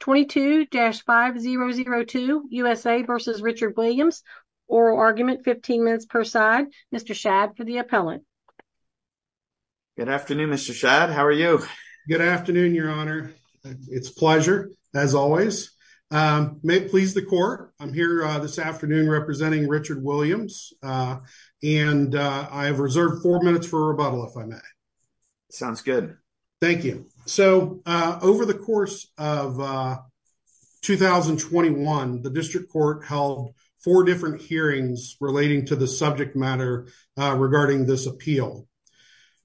22-5002 USA v. Richard Williams. Oral argument, 15 minutes per side. Mr. Shad for the appellant. Good afternoon, Mr. Shad. How are you? Good afternoon, Your Honor. It's a pleasure, as always. May it please the Court, I'm here this afternoon representing Richard Williams, and I have reserved four minutes for a rebuttal, if I may. Sounds good. Thank you. So, over the course of 2021, the District Court held four different hearings relating to the subject matter regarding this appeal.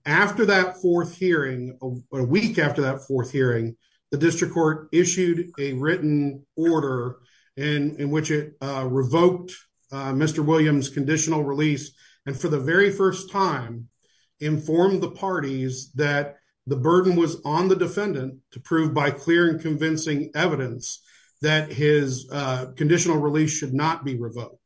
After that fourth hearing, a week after that fourth hearing, the District Court issued a written order in which it revoked Mr. Shad's conditional release. Mr. Shad, for the very first time, informed the parties that the burden was on the defendant to prove by clear and convincing evidence that his conditional release should not be revoked.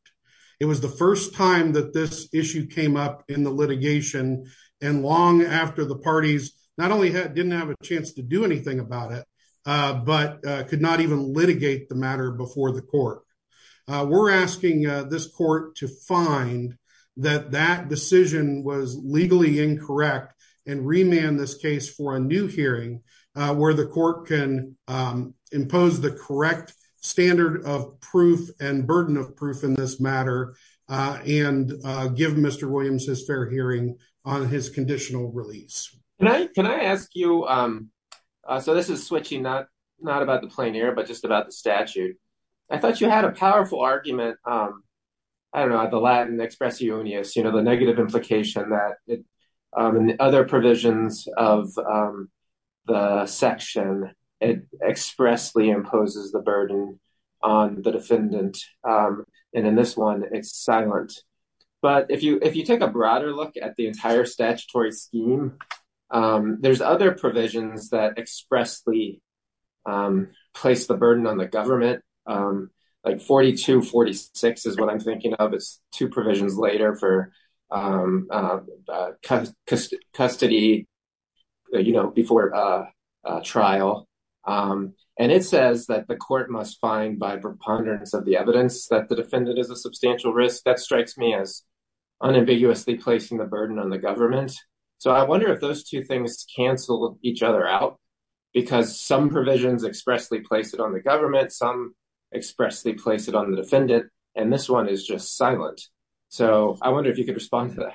It was the first time that this issue came up in the litigation, and long after the parties not only didn't have a chance to do anything about it, but could not even litigate the matter before the Court. We're asking this Court to find that that decision was legally incorrect and remand this case for a new hearing where the Court can impose the correct standard of proof and burden of proof in this matter and give Mr. Williams his fair hearing on his conditional release. Can I ask you, so this is switching, not about the plein air, but just about the statute. I thought you had a powerful argument, I don't know, the Latin expressionius, you know, the negative implication that in the other provisions of the section, it expressly imposes the burden on the defendant, and in this one it's silent. But if you take a broader look at the entire statutory scheme, there's other provisions that expressly place the burden on the government, like 42-46 is what I'm thinking of, it's two provisions later for custody, you know, before trial. And it says that the Court must find by preponderance of the evidence that the defendant is a substantial risk. That strikes me as unambiguously placing the burden on the government. So I wonder if those two things cancel each other out, because some provisions expressly place it on the government, some expressly place it on the defendant, and this one is just silent. So I wonder if you could respond to that.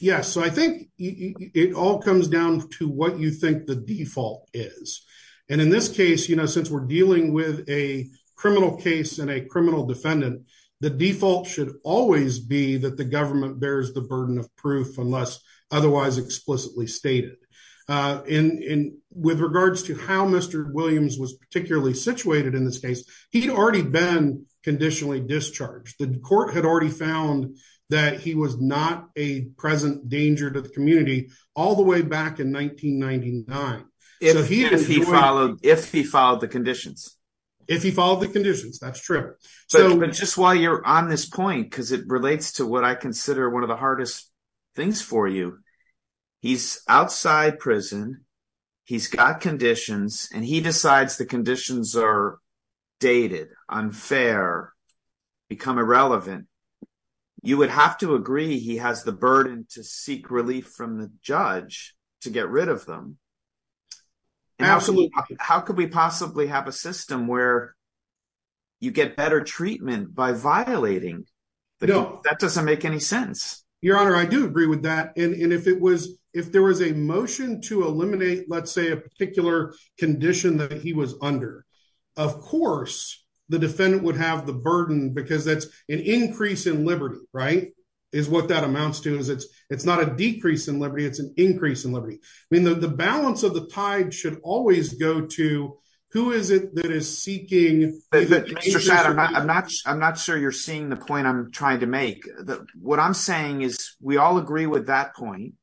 Yes, so I think it all comes down to what you think the default is. And in this case, you know, since we're dealing with a criminal case and a criminal defendant, the default should always be that the government bears the burden of proof unless otherwise explicitly stated. And with regards to how Mr. Williams was particularly situated in this case, he'd already been conditionally discharged. The Court had already found that he was not a present danger to the community all the way back in 1999. If he followed the conditions. If he followed the conditions, that's true. But just while you're on this point, because it relates to what I consider one of the hardest things for you, he's outside prison, he's got conditions, and he decides the conditions are dated, unfair, become irrelevant. You would have to agree he has the burden to seek relief from the judge to get rid of them. Absolutely. How could we possibly have a system where you get better treatment by violating? That doesn't make any sense. Your Honor, I do agree with that. And if it was if there was a motion to eliminate, let's say, a particular condition that he was under, of course, the defendant would have the burden because that's an increase in liberty, right? Is what that amounts to is it's it's not a decrease in liberty, it's an increase in liberty. I mean, the balance of the tide should always go to who is it that is seeking? I'm not I'm not sure you're seeing the point I'm trying to make. What I'm saying is we all agree with that point.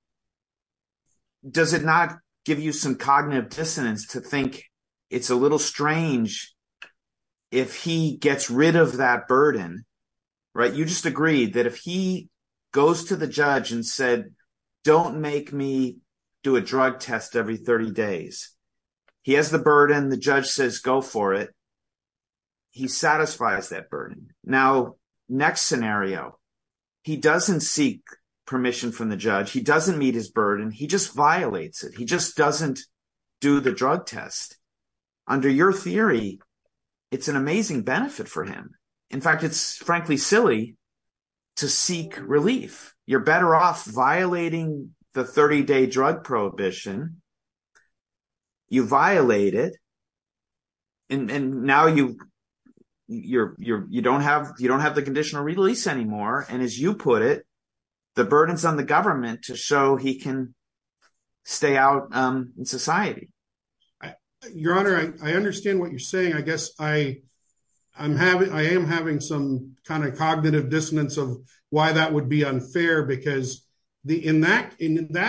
Does it not give you some cognitive dissonance to think it's a little strange if he gets rid of that burden, right? You just agreed that if he says go for it, he satisfies that burden. Now, next scenario, he doesn't seek permission from the judge. He doesn't meet his burden. He just violates it. He just doesn't do the drug test. Under your theory, it's an amazing benefit for him. In fact, it's frankly silly to seek relief. You're better off violating the 30-day drug prohibition. You violate it. And now you don't have the conditional release anymore. And as you put it, the burden's on the government to show he can stay out in society. Your Honor, I understand what you're saying. I guess I am having some kind of cognitive dissonance of why that would be unfair. Because in that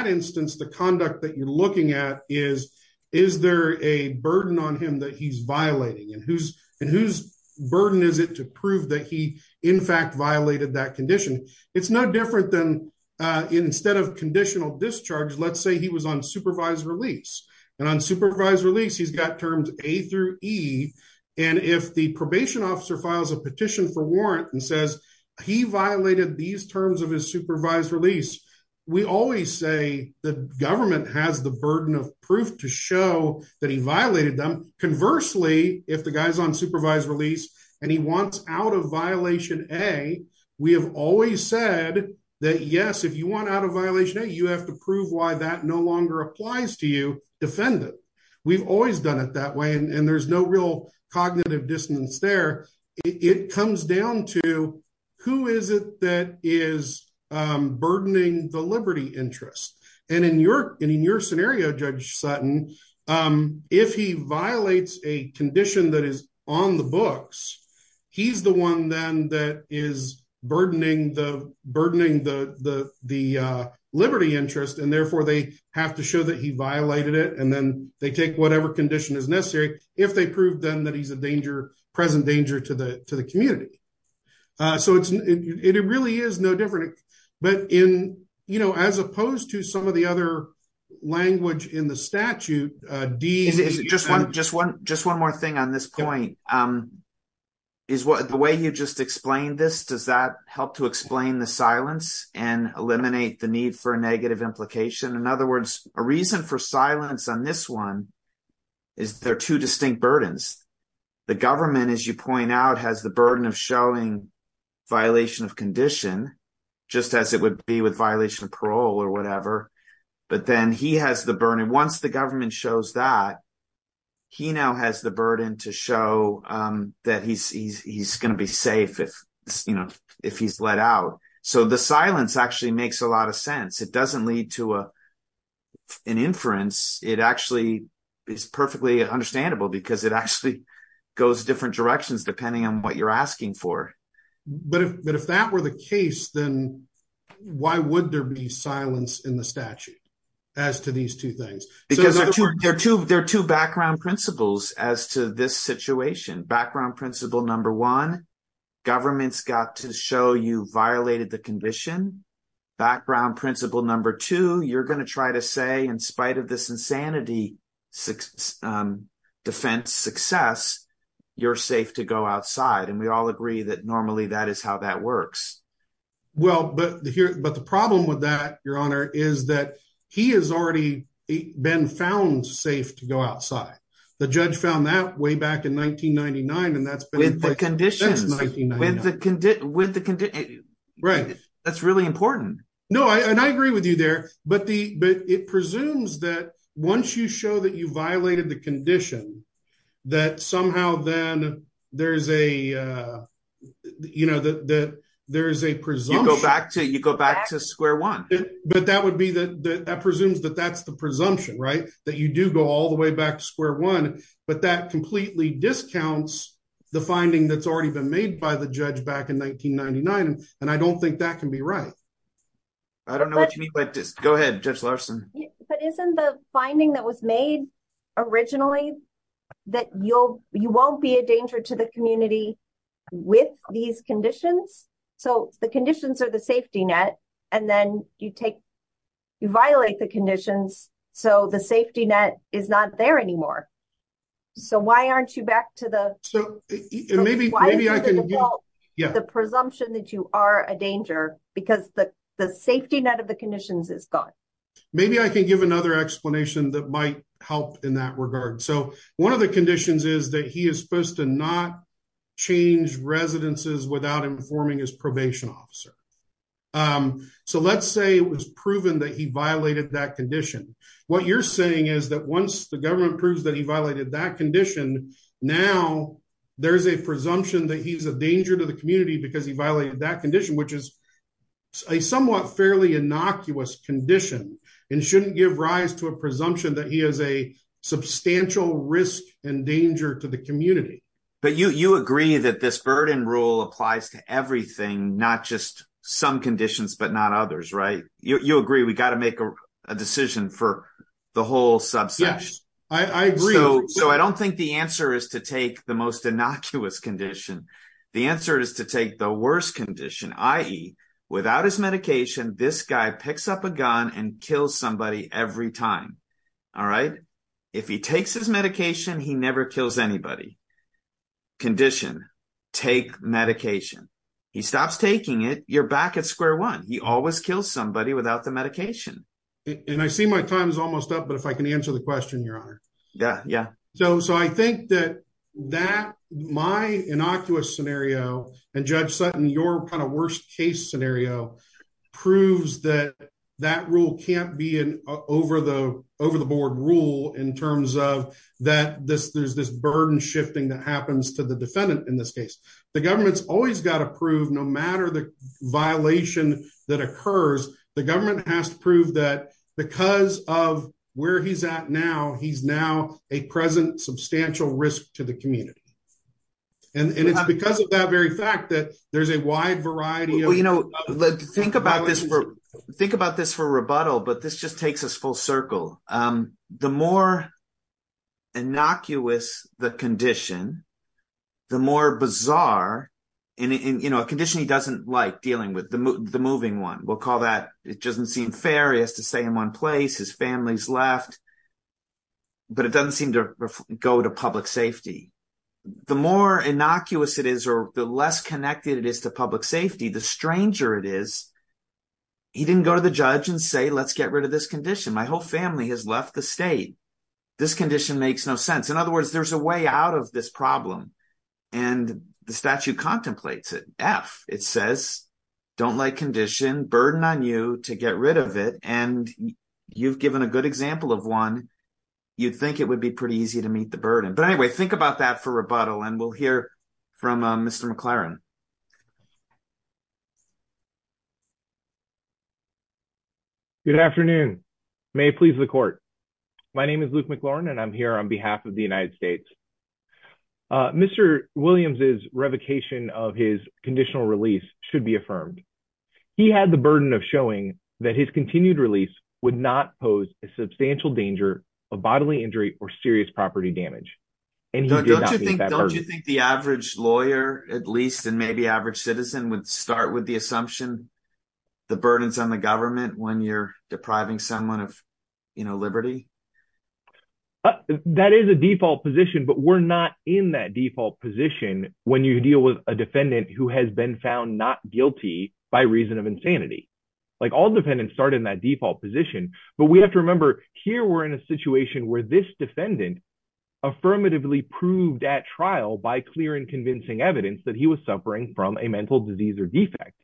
instance, the conduct that you're looking at is, is there a burden on him that he's violating? And whose burden is it to prove that he in fact violated that condition? It's no different than instead of conditional discharge, let's say he was on supervised release. And on supervised release, he's got terms A through E. And if probation officer files a petition for warrant and says he violated these terms of his supervised release, we always say the government has the burden of proof to show that he violated them. Conversely, if the guy's on supervised release, and he wants out of violation A, we have always said that yes, if you want out of violation A, you have to prove why that no longer applies to you, we've always done it that way. And there's no real cognitive dissonance there. It comes down to who is it that is burdening the liberty interest. And in your scenario, Judge Sutton, if he violates a condition that is on the books, he's the one then that is burdening the liberty interest. And therefore, they have to show that he violated it. And then they take whatever condition is necessary, if they prove them that he's a danger, present danger to the to the community. So it really is no different. But in, you know, as opposed to some of the other language in the statute, D... Just one more thing on this point. Is what the way you just explained this, does that help to explain the silence and eliminate the need for a negative implication? In other words, a reason for silence on this one, is there are two distinct burdens. The government, as you point out, has the burden of showing violation of condition, just as it would be with violation of parole or whatever. But then he has the burden, once the government shows that, he now has the burden to show that he's going to be safe if, you know, if he's let out. So the silence actually makes a lot of sense. It doesn't lead to an inference, it actually is perfectly understandable, because it actually goes different directions, depending on what you're asking for. But if that were the case, then why would there be silence in the statute, as to these two things? Because there are two background principles as to this situation. Background principle number one, government's got to show you violated the condition. Background principle number two, you're going to try to say, in spite of this insanity defense success, you're safe to go outside. And we all agree that normally that is how that works. Well, but the problem with that, Your Honor, is that he has already been found safe to go outside. The judge found that way back in 1999, and that's been- With the condition. That's 1999. With the condition. Right. That's really important. No, and I agree with you there. But it presumes that once you show that you violated the condition, that somehow then there's a presumption. You go back to square one. But that presumes that that's the presumption, right? That you do go all the way back to square one, but that completely discounts the finding that's already been made by the judge back in 1999. And I don't think that can be right. I don't know what you mean by- Go ahead, Judge Larson. But isn't the finding that was made originally that you won't be a danger to the community with these conditions? So the conditions are the safety net, and then you violate the conditions, so the safety net is not there anymore. So why aren't you back to the- So maybe I can give- The presumption that you are a danger because the safety net of the conditions is gone. Maybe I can give another explanation that might help in that regard. So one of the conditions is that he is supposed to not change residences without informing his probation officer. So let's say it was proven that he violated that condition. What you're saying is that once the government proves that he violated that condition, now there's a presumption that he's a danger to the community because he violated that condition, which is a somewhat fairly innocuous condition and shouldn't give rise to a presumption that he is a substantial risk and danger to the community. But you agree that this burden rule applies to everything, not just some conditions, but not others, right? You agree we got to make a decision for the whole subsection. Yes, I agree. So I don't think the answer is to take the most innocuous condition. The answer is to take the worst condition, i.e. without his medication, this guy picks up a gun and kills somebody every time, all right? If he takes his medication, he never kills anybody. Condition, take medication. He stops taking it, you're back at square one. He always kills somebody without the medication. And I see my time is almost up, but if I can answer the question, Your Honor. Yeah, yeah. So I think that my innocuous scenario and Judge Sutton, your kind of worst case scenario proves that that rule can't be an over-the-board rule in terms of that there's this burden shifting that happens to the defendant in this case. The government's always got to prove no matter the violation that occurs, the government has to prove that because of where he's at now, he's now a present substantial risk to the community. And it's because of that very fact that there's a wide variety of- Well, think about this for rebuttal, but this just takes us full circle. The more innocuous the condition, the more bizarre, and a condition he doesn't like dealing with, the moving one, we'll call that. It doesn't seem fair. He has to stay in one place. His family's left. But it doesn't seem to go to public safety. The more innocuous it is, or the less connected it is to public safety, the stranger it is. He didn't go to the judge and say, let's get rid of this condition. My whole family has left the state. This condition makes no sense. In other words, there's a way out of this problem. And the statute contemplates it. F, it says, don't like condition, burden on you to get rid of it. And you've given a good example of one. You'd think it would be pretty easy to meet the burden. But anyway, think about that for rebuttal, and we'll hear from Mr. McLaren. Good afternoon. May it please the court. My name is Luke McLaren, and I'm here on behalf of the United States. Mr. Williams's revocation of his conditional release should be affirmed. He had the burden of showing that his continued release would not pose a substantial danger of bodily injury or serious property damage. Don't you think the average lawyer, at least, and maybe average citizen would start with the assumption, the burdens on the government when you're depriving someone of liberty? That is a default position, but we're not in that default position when you deal with a defendant who has been found not guilty by reason of insanity. All defendants start in that default position. But we have to remember, here we're in a situation where this defendant affirmatively proved at trial by clear and convincing evidence that he was suffering from a mental disease or defect.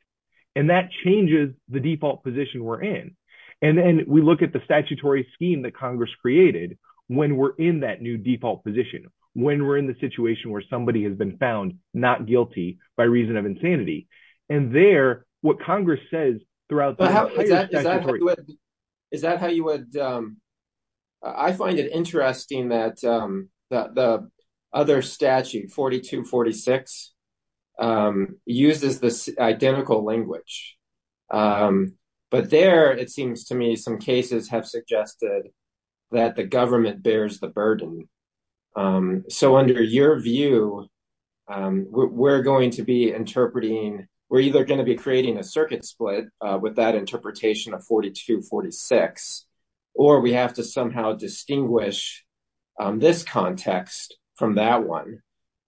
And that changes the default position we're in. And then we look at the statutory scheme that Congress created when we're in that new default position, when we're in the situation where somebody has been found not guilty by reason of insanity. And there, what Congress says throughout... Is that how you would... I find it interesting that the other statute, 4246, uses this identical language. But there, it seems to me, some cases have suggested that the government bears the burden. So under your view, we're going to be interpreting... We're either going to be creating a circuit split with that interpretation of 4246, or we have to somehow distinguish this context from that one.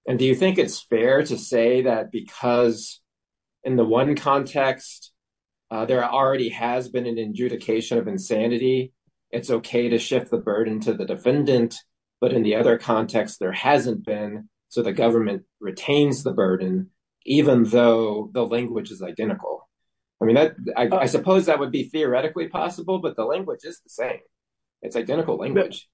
And do you think it's fair to say that because in the one context, there already has been an adjudication of insanity, it's okay to shift the burden to the defendant. But in the other context, there hasn't been. So the government retains the burden, even though the language is identical. I mean, I suppose that would be theoretically possible, but the language is the same. It's identical language.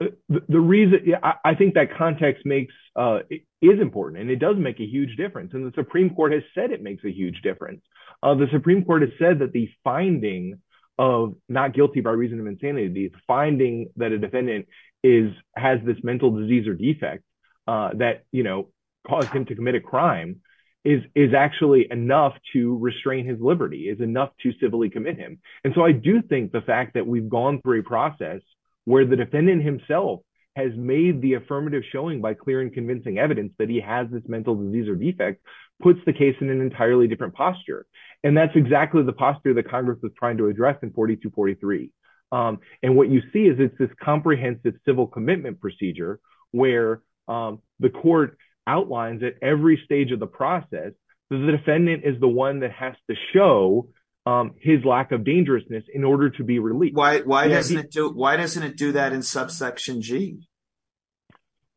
I think that context is important, and it does make a huge difference. And the Supreme Court has said it makes a huge difference. The Supreme Court has said that the finding of not guilty by reason of insanity, the finding that a defendant has this mental disease or defect that caused him to commit a crime, is actually enough to restrain his liberty, is enough to civilly commit him. And so I do think the fact that we've gone through a process where the defendant himself has made the affirmative showing by clear and convincing evidence that he has this mental disease or defect, puts the case in an entirely different posture. And that's exactly the posture that Congress was trying to address in 4243. And what you see is it's this comprehensive civil commitment procedure where the court outlines at every stage of the process, the defendant is the one that has to show his lack of dangerousness in order to be released. Why doesn't it do that in subsection G?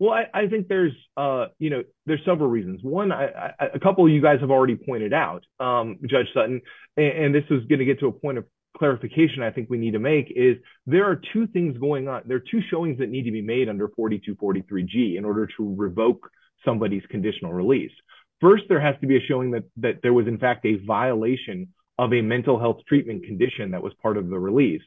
Well, I think there's several reasons. One, a couple of you guys have already pointed out, Judge Sutton, and this is going to get to a point of clarification I think we need to make, is there are two things going on. There are two showings that need to be made under 4243G in order to revoke somebody's conditional release. First, there has to be a showing that there was in fact a violation of a mental health treatment condition that was part of the release.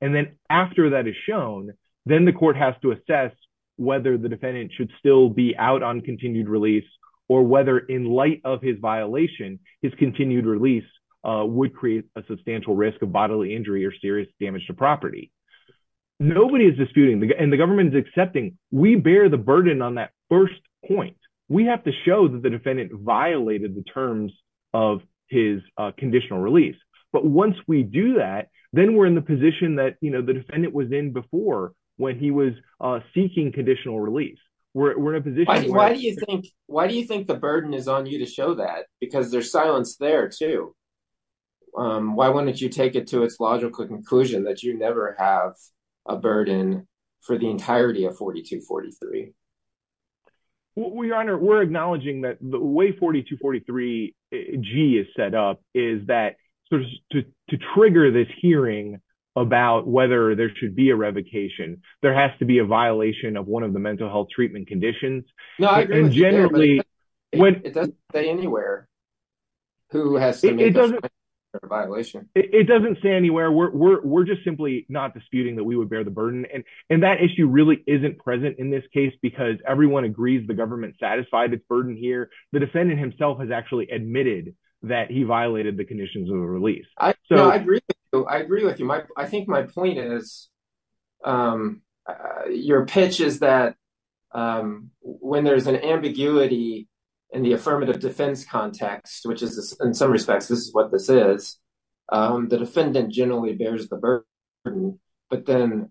And then after that is shown, then the court has to assess whether the defendant should still be out on continued release, or whether in light of his violation, his continued release would create a substantial risk of bodily injury or serious damage to property. Nobody is disputing, and the government is accepting. We bear the burden on that first point. We have to show that the defendant violated the terms of his conditional release. But once we do that, then we're in the position that the defendant was in before when he was seeking conditional release. Why do you think the burden is on you to show that? Because there's silence there too. Why wouldn't you take it to its logical conclusion that you never have a burden for the entirety of 4243? Your Honor, we're acknowledging that the way 4243G is set up is that sort of to trigger this hearing about whether there should be a revocation, there has to be a violation of one of the mental health treatment conditions. No, I agree with you there, but it doesn't say anywhere who has to make a violation. It doesn't say anywhere. We're just simply not disputing that we would bear the burden, and that issue really isn't present in this case because everyone agrees the government satisfied its burden here. The defendant himself has actually admitted that he violated the conditions of the release. No, I agree with you. I agree with you. I think my point is your pitch is that when there's an ambiguity in the affirmative defense context, which is, in some respects, this is what this is, the defendant generally bears the burden. But then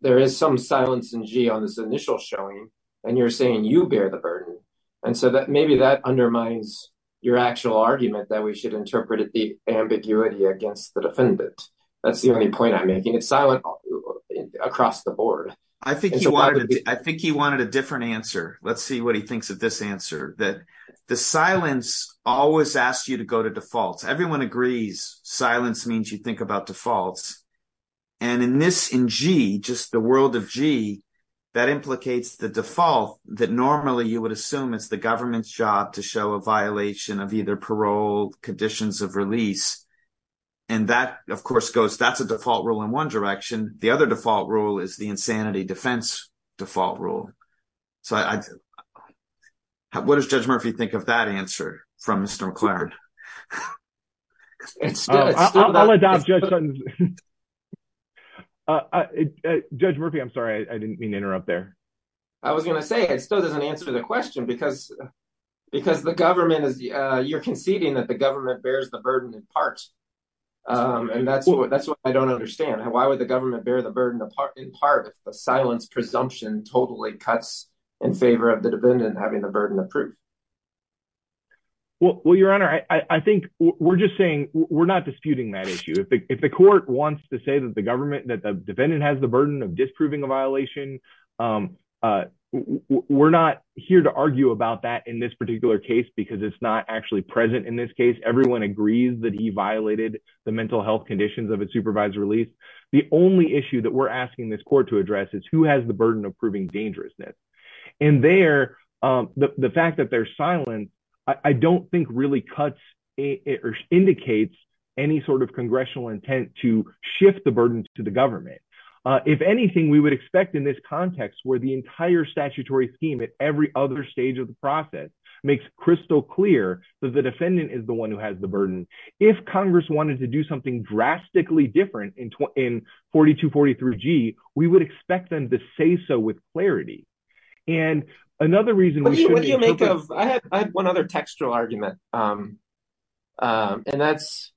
there is some silence in G on this initial showing, and you're saying you bear the burden. And so maybe that undermines your actual argument that we should interpret the ambiguity against the defendant. That's the only point I'm making. It's silent across the board. I think he wanted a different answer. Let's see what he thinks of this answer, that the silence always asks you to go to defaults. Everyone agrees silence means you think about defaults. And in this, in G, just the world of G, that implicates the default that normally you would assume is the government's job to show a violation of either parole, conditions of release. And that, of course, goes, that's a default rule in one direction. The other default rule is the insanity defense default rule. So what does Judge Murphy think of that answer from Mr. McLaren? Judge Murphy, I'm sorry. I didn't mean to interrupt there. I was going to say it still doesn't answer the question because the government is, you're Well, your honor, I think we're just saying we're not disputing that issue. If the court wants to say that the government, that the defendant has the burden of disproving a violation, we're not here to argue about that in this particular case, because it's not actually present in this case. Everyone agrees that he violated the mental health conditions of a supervised release. The only issue that we're asking this court to address is who has the burden of proving dangerousness. And there, the fact that there's silence, I don't think really cuts or indicates any sort of congressional intent to shift the burden to the government. If anything, we would expect in this context where the entire statutory scheme at every other stage of the process makes crystal clear that the defendant is the one who has the burden. If Congress wanted to do something drastically different in 4243G, we would expect them to say so with clarity. And another reason we should be What do you make of, I had one other textual argument. And that's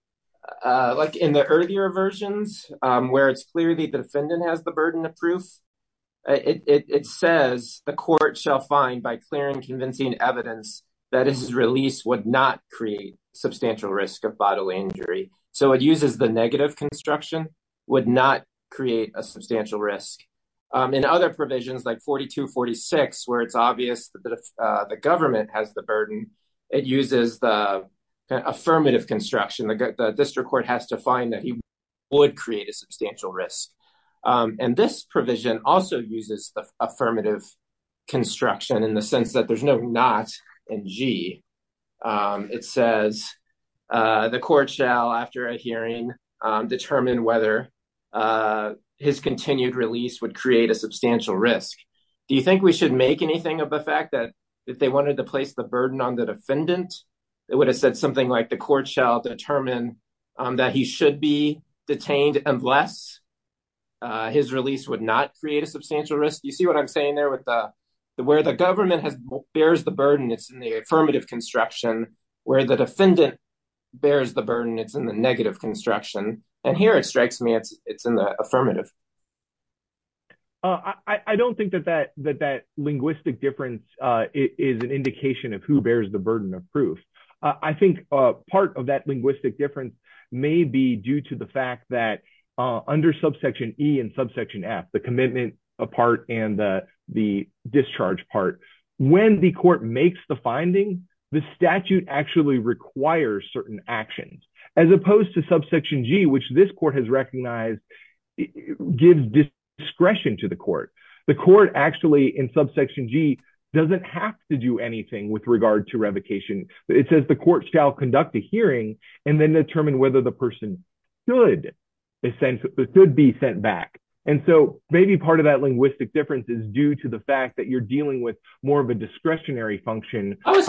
like in the earlier versions where it's clearly the defendant has the burden It says the court shall find by clear and convincing evidence that is released would not create substantial risk of bodily injury. So it uses the negative construction would not create a substantial risk. In other provisions like 4246 where it's obvious that the government has the burden. It uses the affirmative construction, the district court has to find that he would create a substantial risk. And this provision also uses the affirmative construction in the sense that there's no not in G. It says the court shall after a hearing determine whether his continued release would create a substantial risk. Do you think we should make anything of the fact that if they wanted to place the burden on the defendant, it would have said something like the court shall determine that he should be detained, unless his release would not create a substantial risk. You see what I'm saying there with the where the government has bears the burden. It's in the affirmative construction where the defendant bears the burden. It's in the negative construction and here it strikes me it's it's in the affirmative. I don't think that that that that linguistic difference is an indication of who bears the burden of proof. I think part of that linguistic difference may be due to the fact that under subsection E and subsection F the commitment apart and the discharge part when the court makes the finding the statute actually requires certain actions, as opposed to subsection G which this court has recognized gives discretion to the court. The court actually in subsection G doesn't have to do anything with regard to revocation. It says the court shall conduct a hearing and then determine whether the person could be sent back. And so maybe part of that linguistic difference is due to the fact that you're dealing with more of a discretionary function. Is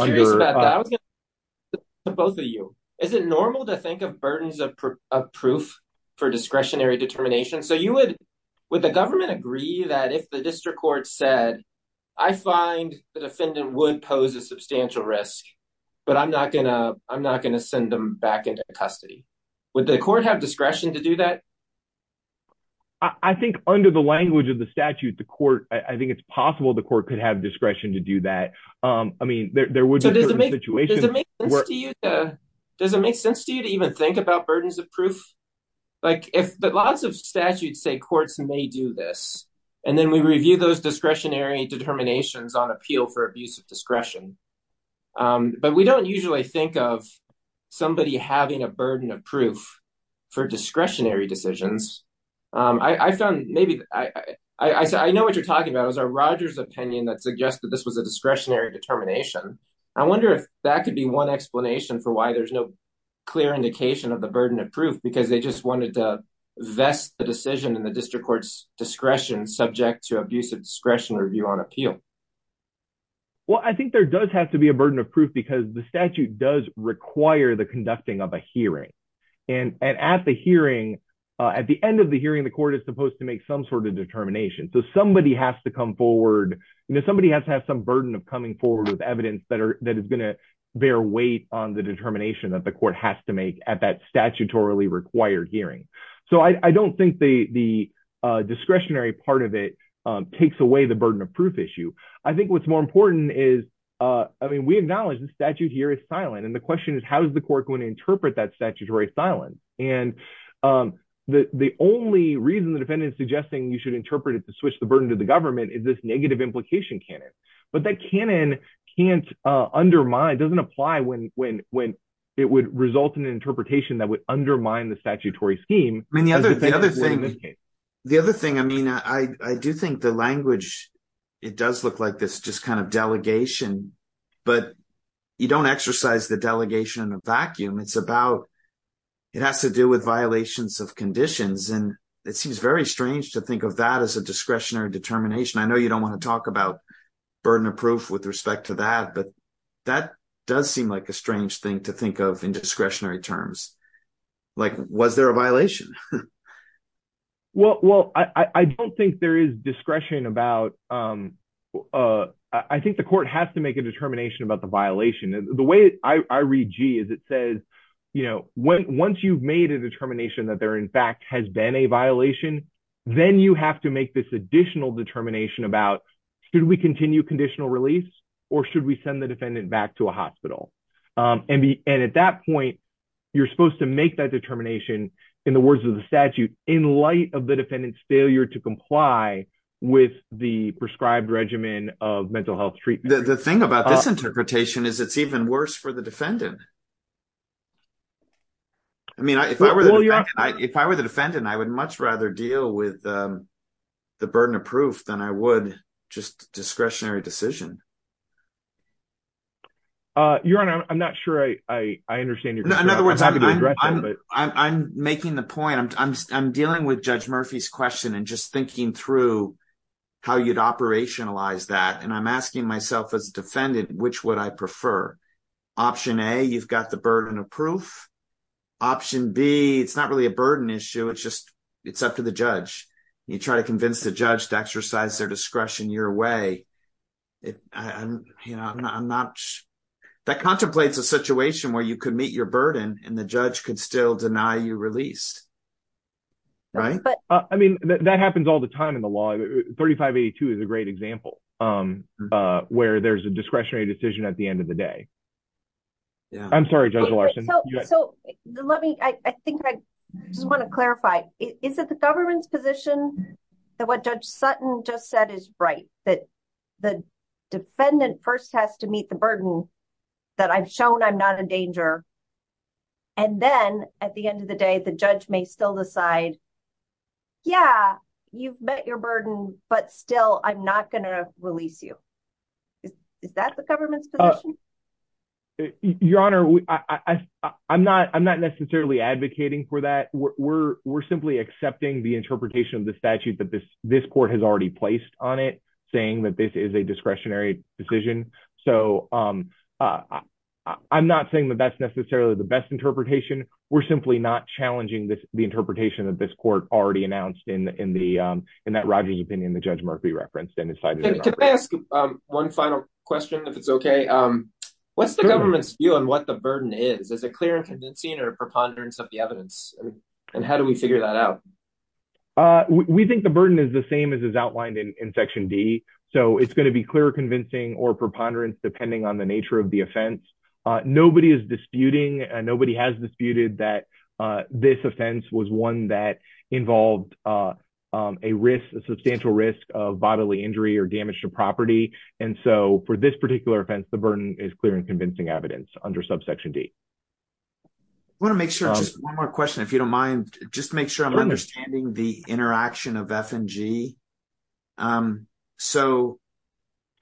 it normal to think of burdens of proof for discretionary determination so you would with the government agree that if the district court said I find the defendant would pose a substantial risk, but I'm not going to I'm not going to send them back into custody. Would the court have discretion to do that? I think under the language of the statute, the court, I think it's possible the court could have discretion to do that. I mean, there would be a situation. Does it make sense to you to even think about burdens of proof? Like if lots of statutes say courts may do this and then we review those discretionary determinations on appeal for abuse of discretion. But we don't usually think of somebody having a burden of proof for discretionary decisions. I found maybe I know what you're talking about is our Rogers opinion that suggested this was a discretionary determination. I wonder if that could be one explanation for why there's no clear indication of the burden of proof because they just wanted to vest the decision in the district court's appeal. Well, I think there does have to be a burden of proof because the statute does require the conducting of a hearing. And at the hearing, at the end of the hearing, the court is supposed to make some sort of determination. So somebody has to come forward, somebody has to have some burden of coming forward with evidence that are that is going to bear weight on the determination that the court has to make at that statutorily required hearing. So I don't think the discretionary part of it takes away the burden of proof issue. I think what's more important is, I mean, we acknowledge the statute here is silent. And the question is, how does the court going to interpret that statutory silence? And the only reason the defendant is suggesting you should interpret it to switch the burden to the government is this negative implication canon. But that canon can't undermine, doesn't apply when it would result in an interpretation that would undermine the statutory scheme. I mean, the other thing, I mean, I do think the language, it does look like this just kind of delegation. But you don't exercise the delegation in a vacuum. It's about, it has to do with violations of conditions. And it seems very strange to think of that as a discretionary determination. I know you don't want to talk about burden of proof with respect to that, but that does seem like a strange thing to think of in discretionary terms. Like, was there a violation? Well, I don't think there is discretion about, I think the court has to make a determination about the violation. The way I read G is it says, once you've made a determination that there in fact has been a violation, then you have to make this additional determination about, should we continue conditional release? Or should we send the defendant back to a hospital? And at that point, you're supposed to make that determination in the words of the statute in light of the defendant's failure to comply with the prescribed regimen of mental health treatment. The thing about this interpretation is it's even worse for the defendant. I mean, if I were the defendant, I would much rather deal with the burden of proof than I would just discretionary decision. Your Honor, I'm not sure I understand your question. In other words, I'm making the point, I'm dealing with Judge Murphy's question and just thinking through how you'd operationalize that. And I'm asking myself as a defendant, which would I prefer? Option A, you've got the burden of proof. Option B, it's not really a burden issue. It's just, it's up to the judge. You try to convince the judge to exercise their discretion your way. You know, I'm not, that contemplates a situation where you could meet your burden and the judge could still deny you release, right? But I mean, that happens all the time in the law. 3582 is a great example where there's a discretionary decision at the end of the day. I'm sorry, Judge Larson. So let me, I think I just want to clarify. Is it the government's position that what Judge Sutton just said is right? That the defendant first has to meet the burden that I've shown I'm not in danger. And then at the end of the day, the judge may still decide, yeah, you've met your burden, but still I'm not going to release you. Is that the government's position? Your Honor, I'm not necessarily advocating for that. We're simply accepting the interpretation of the statute that this court has already placed on it, saying that this is a discretionary decision. So I'm not saying that that's necessarily the best interpretation. We're simply not challenging the interpretation that this court already announced in that Rodgers opinion that Judge Murphy referenced. Can I ask one final question, if it's okay? What's the government's view on what the burden is? Is it clear and convincing or a preponderance of the evidence? And how do we figure that out? We think the burden is the same as is outlined in section D. So it's going to be clear, convincing or preponderance, depending on the nature of the offense. Nobody is disputing. Nobody has disputed that this offense was one that involved a risk, a substantial risk of bodily injury or damage to property. And so for this particular offense, the burden is clear and convincing evidence under subsection D. I want to make sure just one more question, if you don't mind, just make sure I'm understanding the interaction of F and G. So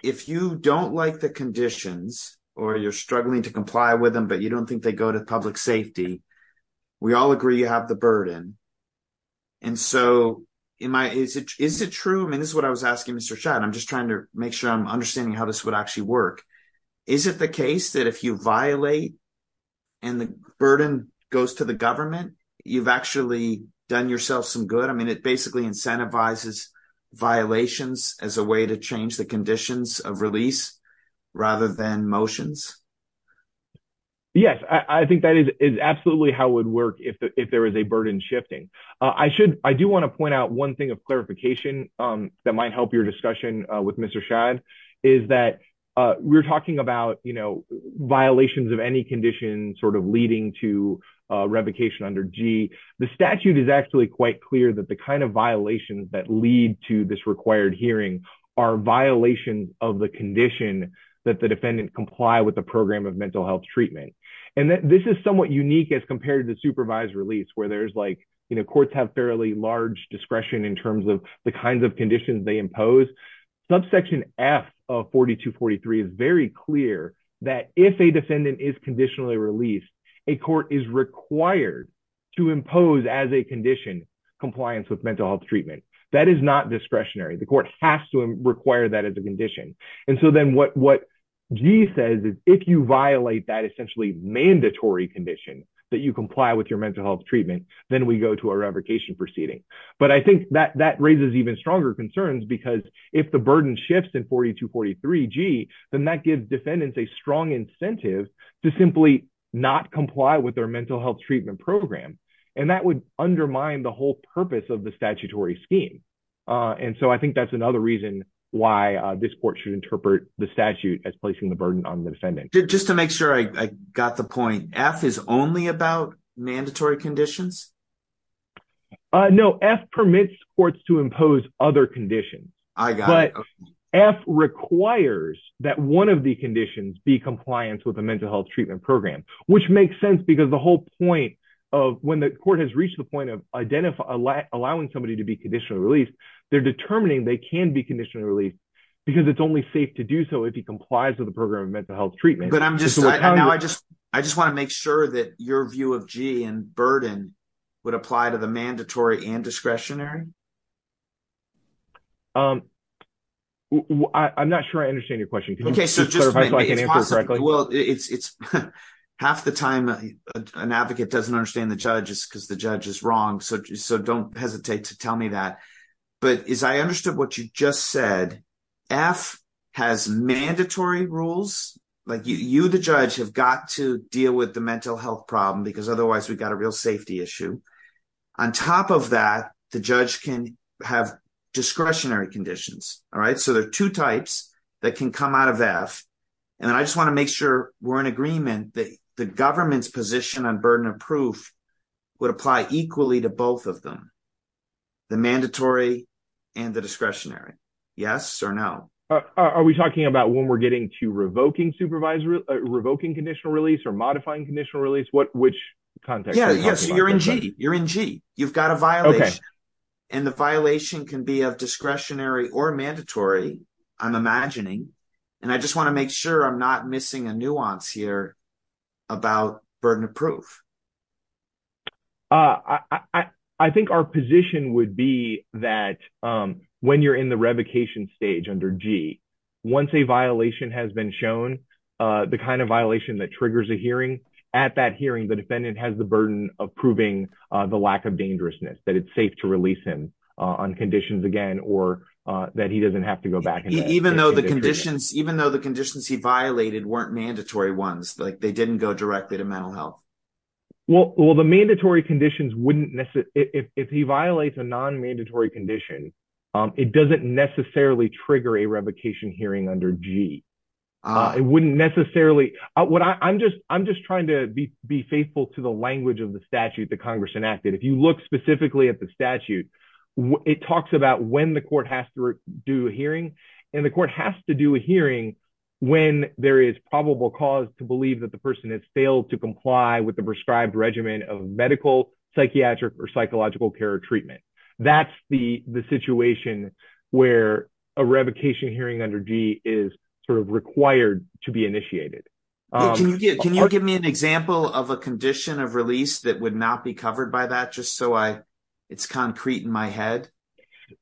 if you don't like the conditions, or you're struggling to comply with them, but you don't think they go to public safety, we all agree you have the burden. And so is it true? I mean, this is what I was asking Mr. Schatt. I'm just trying to make sure I'm understanding how this would actually work. Is it the case that if you violate and the burden goes to the government, you've actually done yourself some good? I mean, it basically incentivizes violations as a way to change the conditions of release rather than motions. Yes, I think that is absolutely how it would work if there is a burden shifting. I do want to point out one thing of clarification that might help your discussion with Mr. Schatt is that we're talking about violations of any condition sort of leading to revocation under G. The statute is actually quite clear that the kind of violations that lead to this required hearing are violations of the condition that the defendant comply with the program of mental health treatment. And this is somewhat unique as compared to supervised release where courts have fairly large discretion in terms of the kinds of conditions they impose. Subsection F of 4243 is very clear that if a defendant is conditionally released, a court is required to impose as a condition compliance with mental health treatment. That is not discretionary. The court has to require that as a condition. And so then what G says is if you violate that essentially mandatory condition that you comply with your mental health treatment, then we go to a revocation proceeding. But I think that that raises even stronger concerns because if the burden shifts in 4243 then that gives defendants a strong incentive to simply not comply with their mental health treatment program. And that would undermine the whole purpose of the statutory scheme. And so I think that's another reason why this court should interpret the statute as placing the burden on the defendant. Just to make sure I got the point, F is only about mandatory conditions? No, F permits courts to impose other conditions. I got it. F requires that one of the conditions be compliance with the mental health treatment program, which makes sense because the whole point of when the court has reached the point of allowing somebody to be conditionally released, they're determining they can be conditionally released because it's only safe to do so if he complies with the program of mental health treatment. I just want to make sure that your view of G and burden would apply to the mandatory and discretionary? I'm not sure I understand your question. Half the time an advocate doesn't understand the judge is because the judge is wrong, so don't hesitate to tell me that. But as I understood what you just said, F has mandatory rules. You, the judge, have got to deal with the mental health problem because otherwise we've got a real safety issue. On top of that, the judge can have discretionary conditions. So there are two types that can come out of F, and I just want to make sure we're in agreement that the government's position on burden of proof would apply equally to both of them. The mandatory and the discretionary. Yes or no? Are we talking about when we're getting to revoking conditional release or modifying conditional release? You're in G. You're in G. And the violation can be of discretionary or mandatory, I'm imagining, and I just want to make sure I'm not missing a nuance here about burden of proof. I think our position would be that when you're in the revocation stage under G, once a violation has been shown, the kind of violation that triggers a hearing, at that hearing the defendant has the burden of proving the lack of dangerousness, that it's safe to release him on conditions again, or that he doesn't have to go back. Even though the conditions he violated weren't mandatory ones, like they didn't go directly to mental health. Well, the mandatory conditions wouldn't, if he violates a non-mandatory condition, it doesn't necessarily trigger a revocation hearing under G. It wouldn't necessarily. I'm just trying to be faithful to the language of the statute that Congress enacted. If you look specifically at the statute, it talks about when the court has to do a hearing, and the court has to do a hearing when there is probable cause to believe that the person has failed to comply with the prescribed regimen of medical, psychiatric, or psychological care treatment. That's the situation where a revocation hearing under G is sort of required to be initiated. Can you give me an example of a condition of release that would not be covered by that just so it's concrete in my head?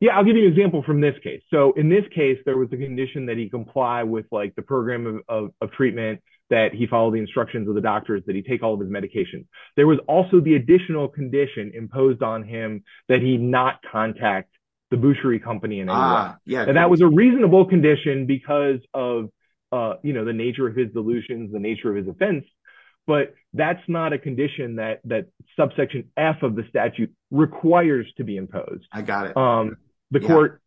Yeah, I'll give you an example from this case. So in this case, there was a condition that he comply with like the program of treatment that he followed the instructions of the doctors that he take all of his medications. There was also the additional condition imposed on him that he not contact the butchery company and that was a reasonable condition because of the nature of his delusions, the nature of his offense, but that's not a condition that subsection F of the statute requires to be imposed. I got it. But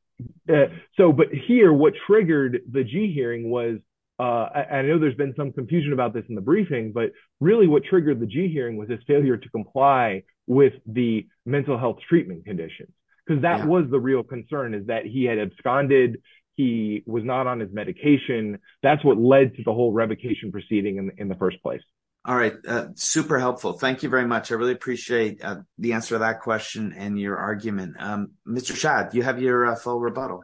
here, what triggered the G hearing was, I know there's been some confusion about this in the briefing, but really what triggered the G hearing was his failure to comply with the mental health treatment condition because that was the real concern is that he had absconded. He was not on his medication. That's what led to the whole revocation proceeding in the first place. All right, super helpful. Thank you very much. I really appreciate the answer to that question and your argument. Mr. Shad, you have your full rebuttal.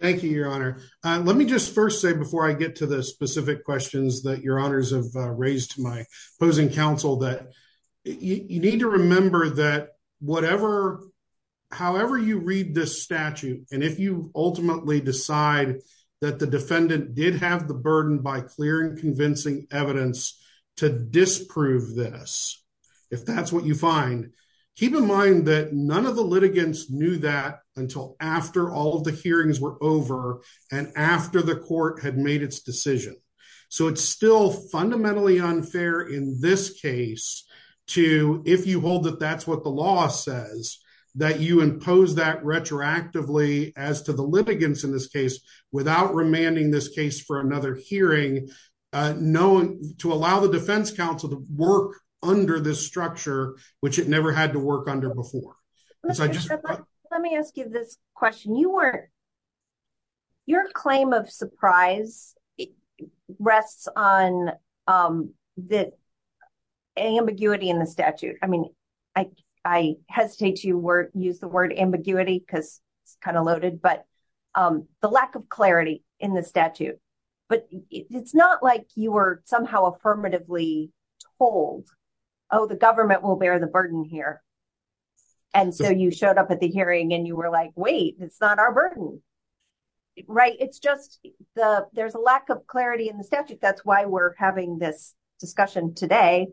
Thank you, Your Honor. Let me just first say before I get to the specific questions that Your Honors have raised to my opposing counsel that you need to remember that however you read this statute and if you ultimately decide that the defendant did have the burden by clear and convincing evidence to disprove this, if that's what you find, keep in mind that none of the litigants knew that until after all of the hearings were over and after the court had made its decision. So it's still fundamentally unfair in this case to, if you hold that that's what the law says, that you impose that retroactively as to the litigants in this case without remanding this case for another hearing to allow the defense counsel to work under this structure, which it never had to work under before. Mr. Shad, let me ask you this question. Your claim of surprise rests on the ambiguity in the statute. I mean, I hesitate to use the word ambiguity because it's kind of loaded, but the lack of clarity in the statute. But it's not like you were somehow affirmatively told, oh, the government will bear the burden here. And so you showed up at the hearing and you were like, wait, it's not our burden. Right? It's just the there's a lack of clarity in the statute. That's why we're having this discussion today.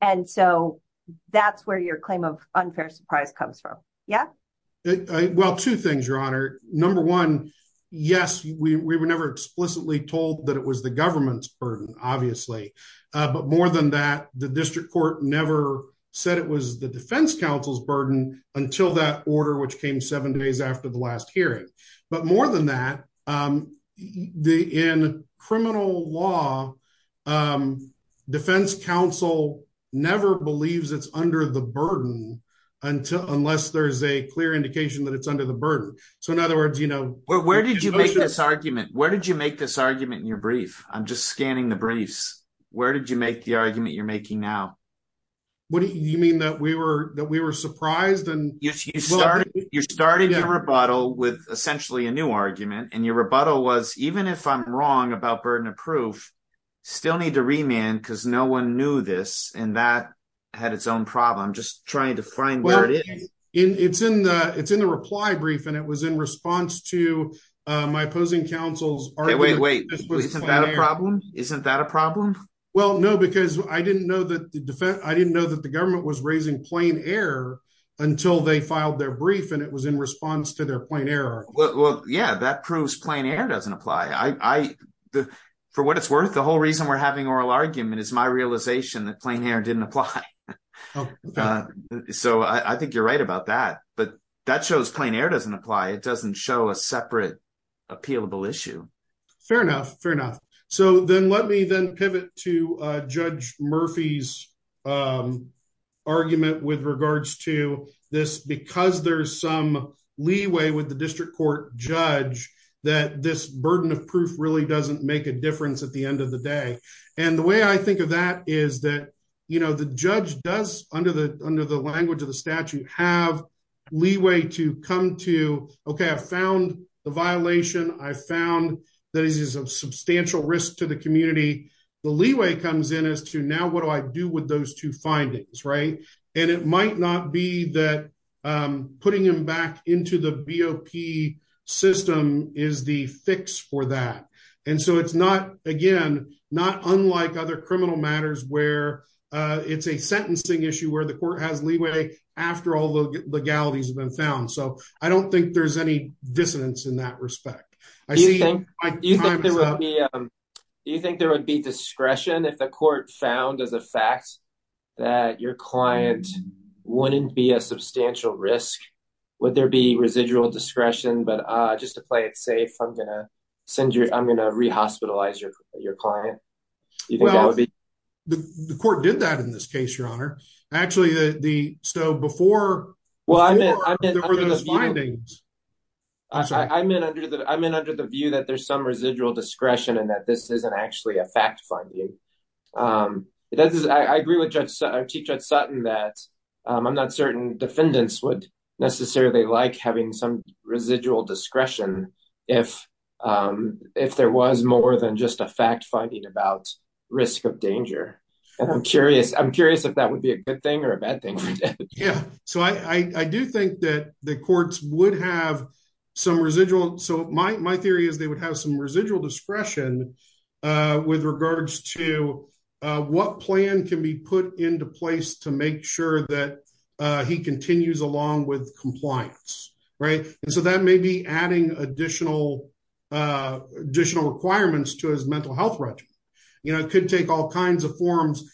And so that's where your claim of unfair surprise comes from. Yeah. Well, two things, Your Honor. Number one, yes, we were never explicitly told that it was the government's burden, obviously. But more than that, the district court never said it was the defense counsel's burden until that order, which came seven days after the last hearing. But more than that, in criminal law, defense counsel never believes it's under the burden unless there's a clear indication that it's under the burden. So in other words, you know. Where did you make this argument? Where did you make this argument in your brief? I'm just scanning the briefs. Where did you make the argument you're making now? What do you mean that we were that we were surprised? And you started your rebuttal with essentially a new argument. And your rebuttal was, even if I'm wrong about burden of proof, still need to remand because no one knew this. And that had its own problem. Just trying to find where it is in. It's in the it's in the reply brief. And it was in response to my opposing counsel's. Wait, wait, isn't that a problem? Isn't that a problem? Well, no, because I didn't know that the defense I didn't know that the government was raising plain air until they filed their brief. And it was in response to their point error. Well, yeah, that proves plain air doesn't apply. I for what it's worth, the whole reason we're having oral argument is my realization that plain air didn't apply. So I think you're right about that. But that shows plain air doesn't apply. It doesn't show a separate appealable issue. Fair enough. Fair enough. So then let me then pivot to Judge Murphy's argument with regards to this because there's some leeway with the district court judge that this burden of proof really doesn't make a difference at the end of the day. And the way I think of that is that, you know, the judge does under the under the language of the statute have leeway to come to. OK, I found the violation. I found that is a substantial risk to the community. The leeway comes in as to now what do I do with those two findings? Right. And it might not be that putting them back into the BOP system is the fix for that. And so it's not again, not unlike other criminal matters where it's a sentencing issue where the court has leeway after all the legalities have been found. So I don't think there's any dissonance in that respect. I think you think there would be discretion if the court found as a fact that your client wouldn't be a substantial risk. Would there be residual discretion? But just to play it safe, I'm going to send you. I'm going to re-hospitalize your client. Actually, the so before. Well, I mean, I mean, I'm in under the view that there's some residual discretion and that this isn't actually a fact finding. I agree with Judge Sutton that I'm not certain defendants would necessarily like having some residual discretion if if there was more than just a fact finding about risk of danger. I'm curious. I'm curious if that would be a good thing or a bad thing. Yeah. So I do think that the courts would have some residual. So my theory is they would have some residual discretion with regards to what plan can be put into place to make sure that he continues along with compliance. Right. And so that may be adding additional additional requirements to his mental health record. You know, it could take all kinds of forms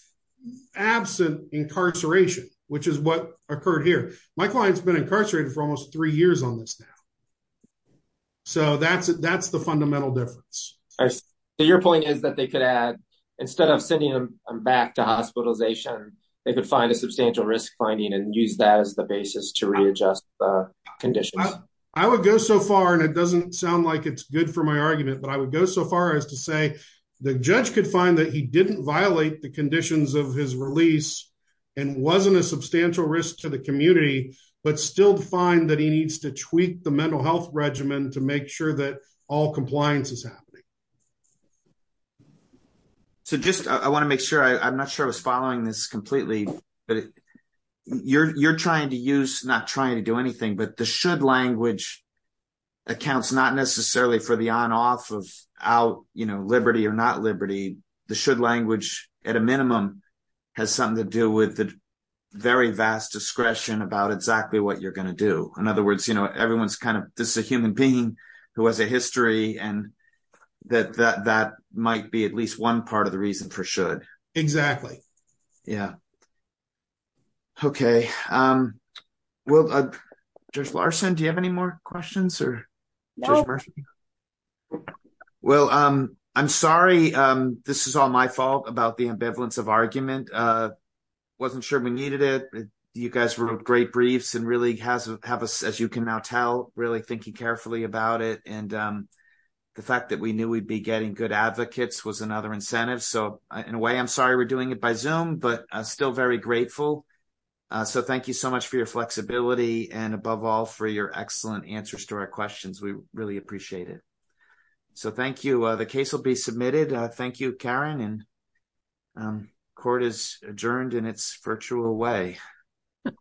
absent incarceration, which is what occurred here. My client's been incarcerated for almost three years on this now. So that's that's the fundamental difference. Your point is that they could add instead of sending them back to hospitalization, they could find a substantial risk finding and use that as the basis to readjust the conditions. I would go so far and it doesn't sound like it's good for my argument, but I would go so far as to say the judge could find that he didn't violate the conditions of his release and wasn't a substantial risk to the community, but still find that he needs to tweak the mental health regimen to make sure that all compliance is happening. So just I want to make sure I'm not sure I was following this completely, but you're trying to use not trying to do anything, but the should language accounts, not necessarily for the on off of out, you know, liberty or not liberty. The should language at a minimum has something to do with the very vast discretion about exactly what you're going to do. In other words, you know, everyone's kind of this is a human being who has a history and that that that might be at least one part of the reason for should. Exactly. Yeah. Okay. Well, Judge Larson, do you have any more questions? Well, I'm sorry. This is all my fault about the ambivalence of argument. Wasn't sure we needed it. You guys wrote great briefs and really has have us, as you can now tell, really thinking carefully about it. And the fact that we knew we'd be getting good advocates was another incentive. So in a way, I'm sorry we're doing it by Zoom, but still very grateful. So thank you so much for your flexibility. And above all, for your excellent answers to our questions. We really appreciate it. So thank you. The case will be submitted. Thank you, Karen. And court is adjourned in its virtual way.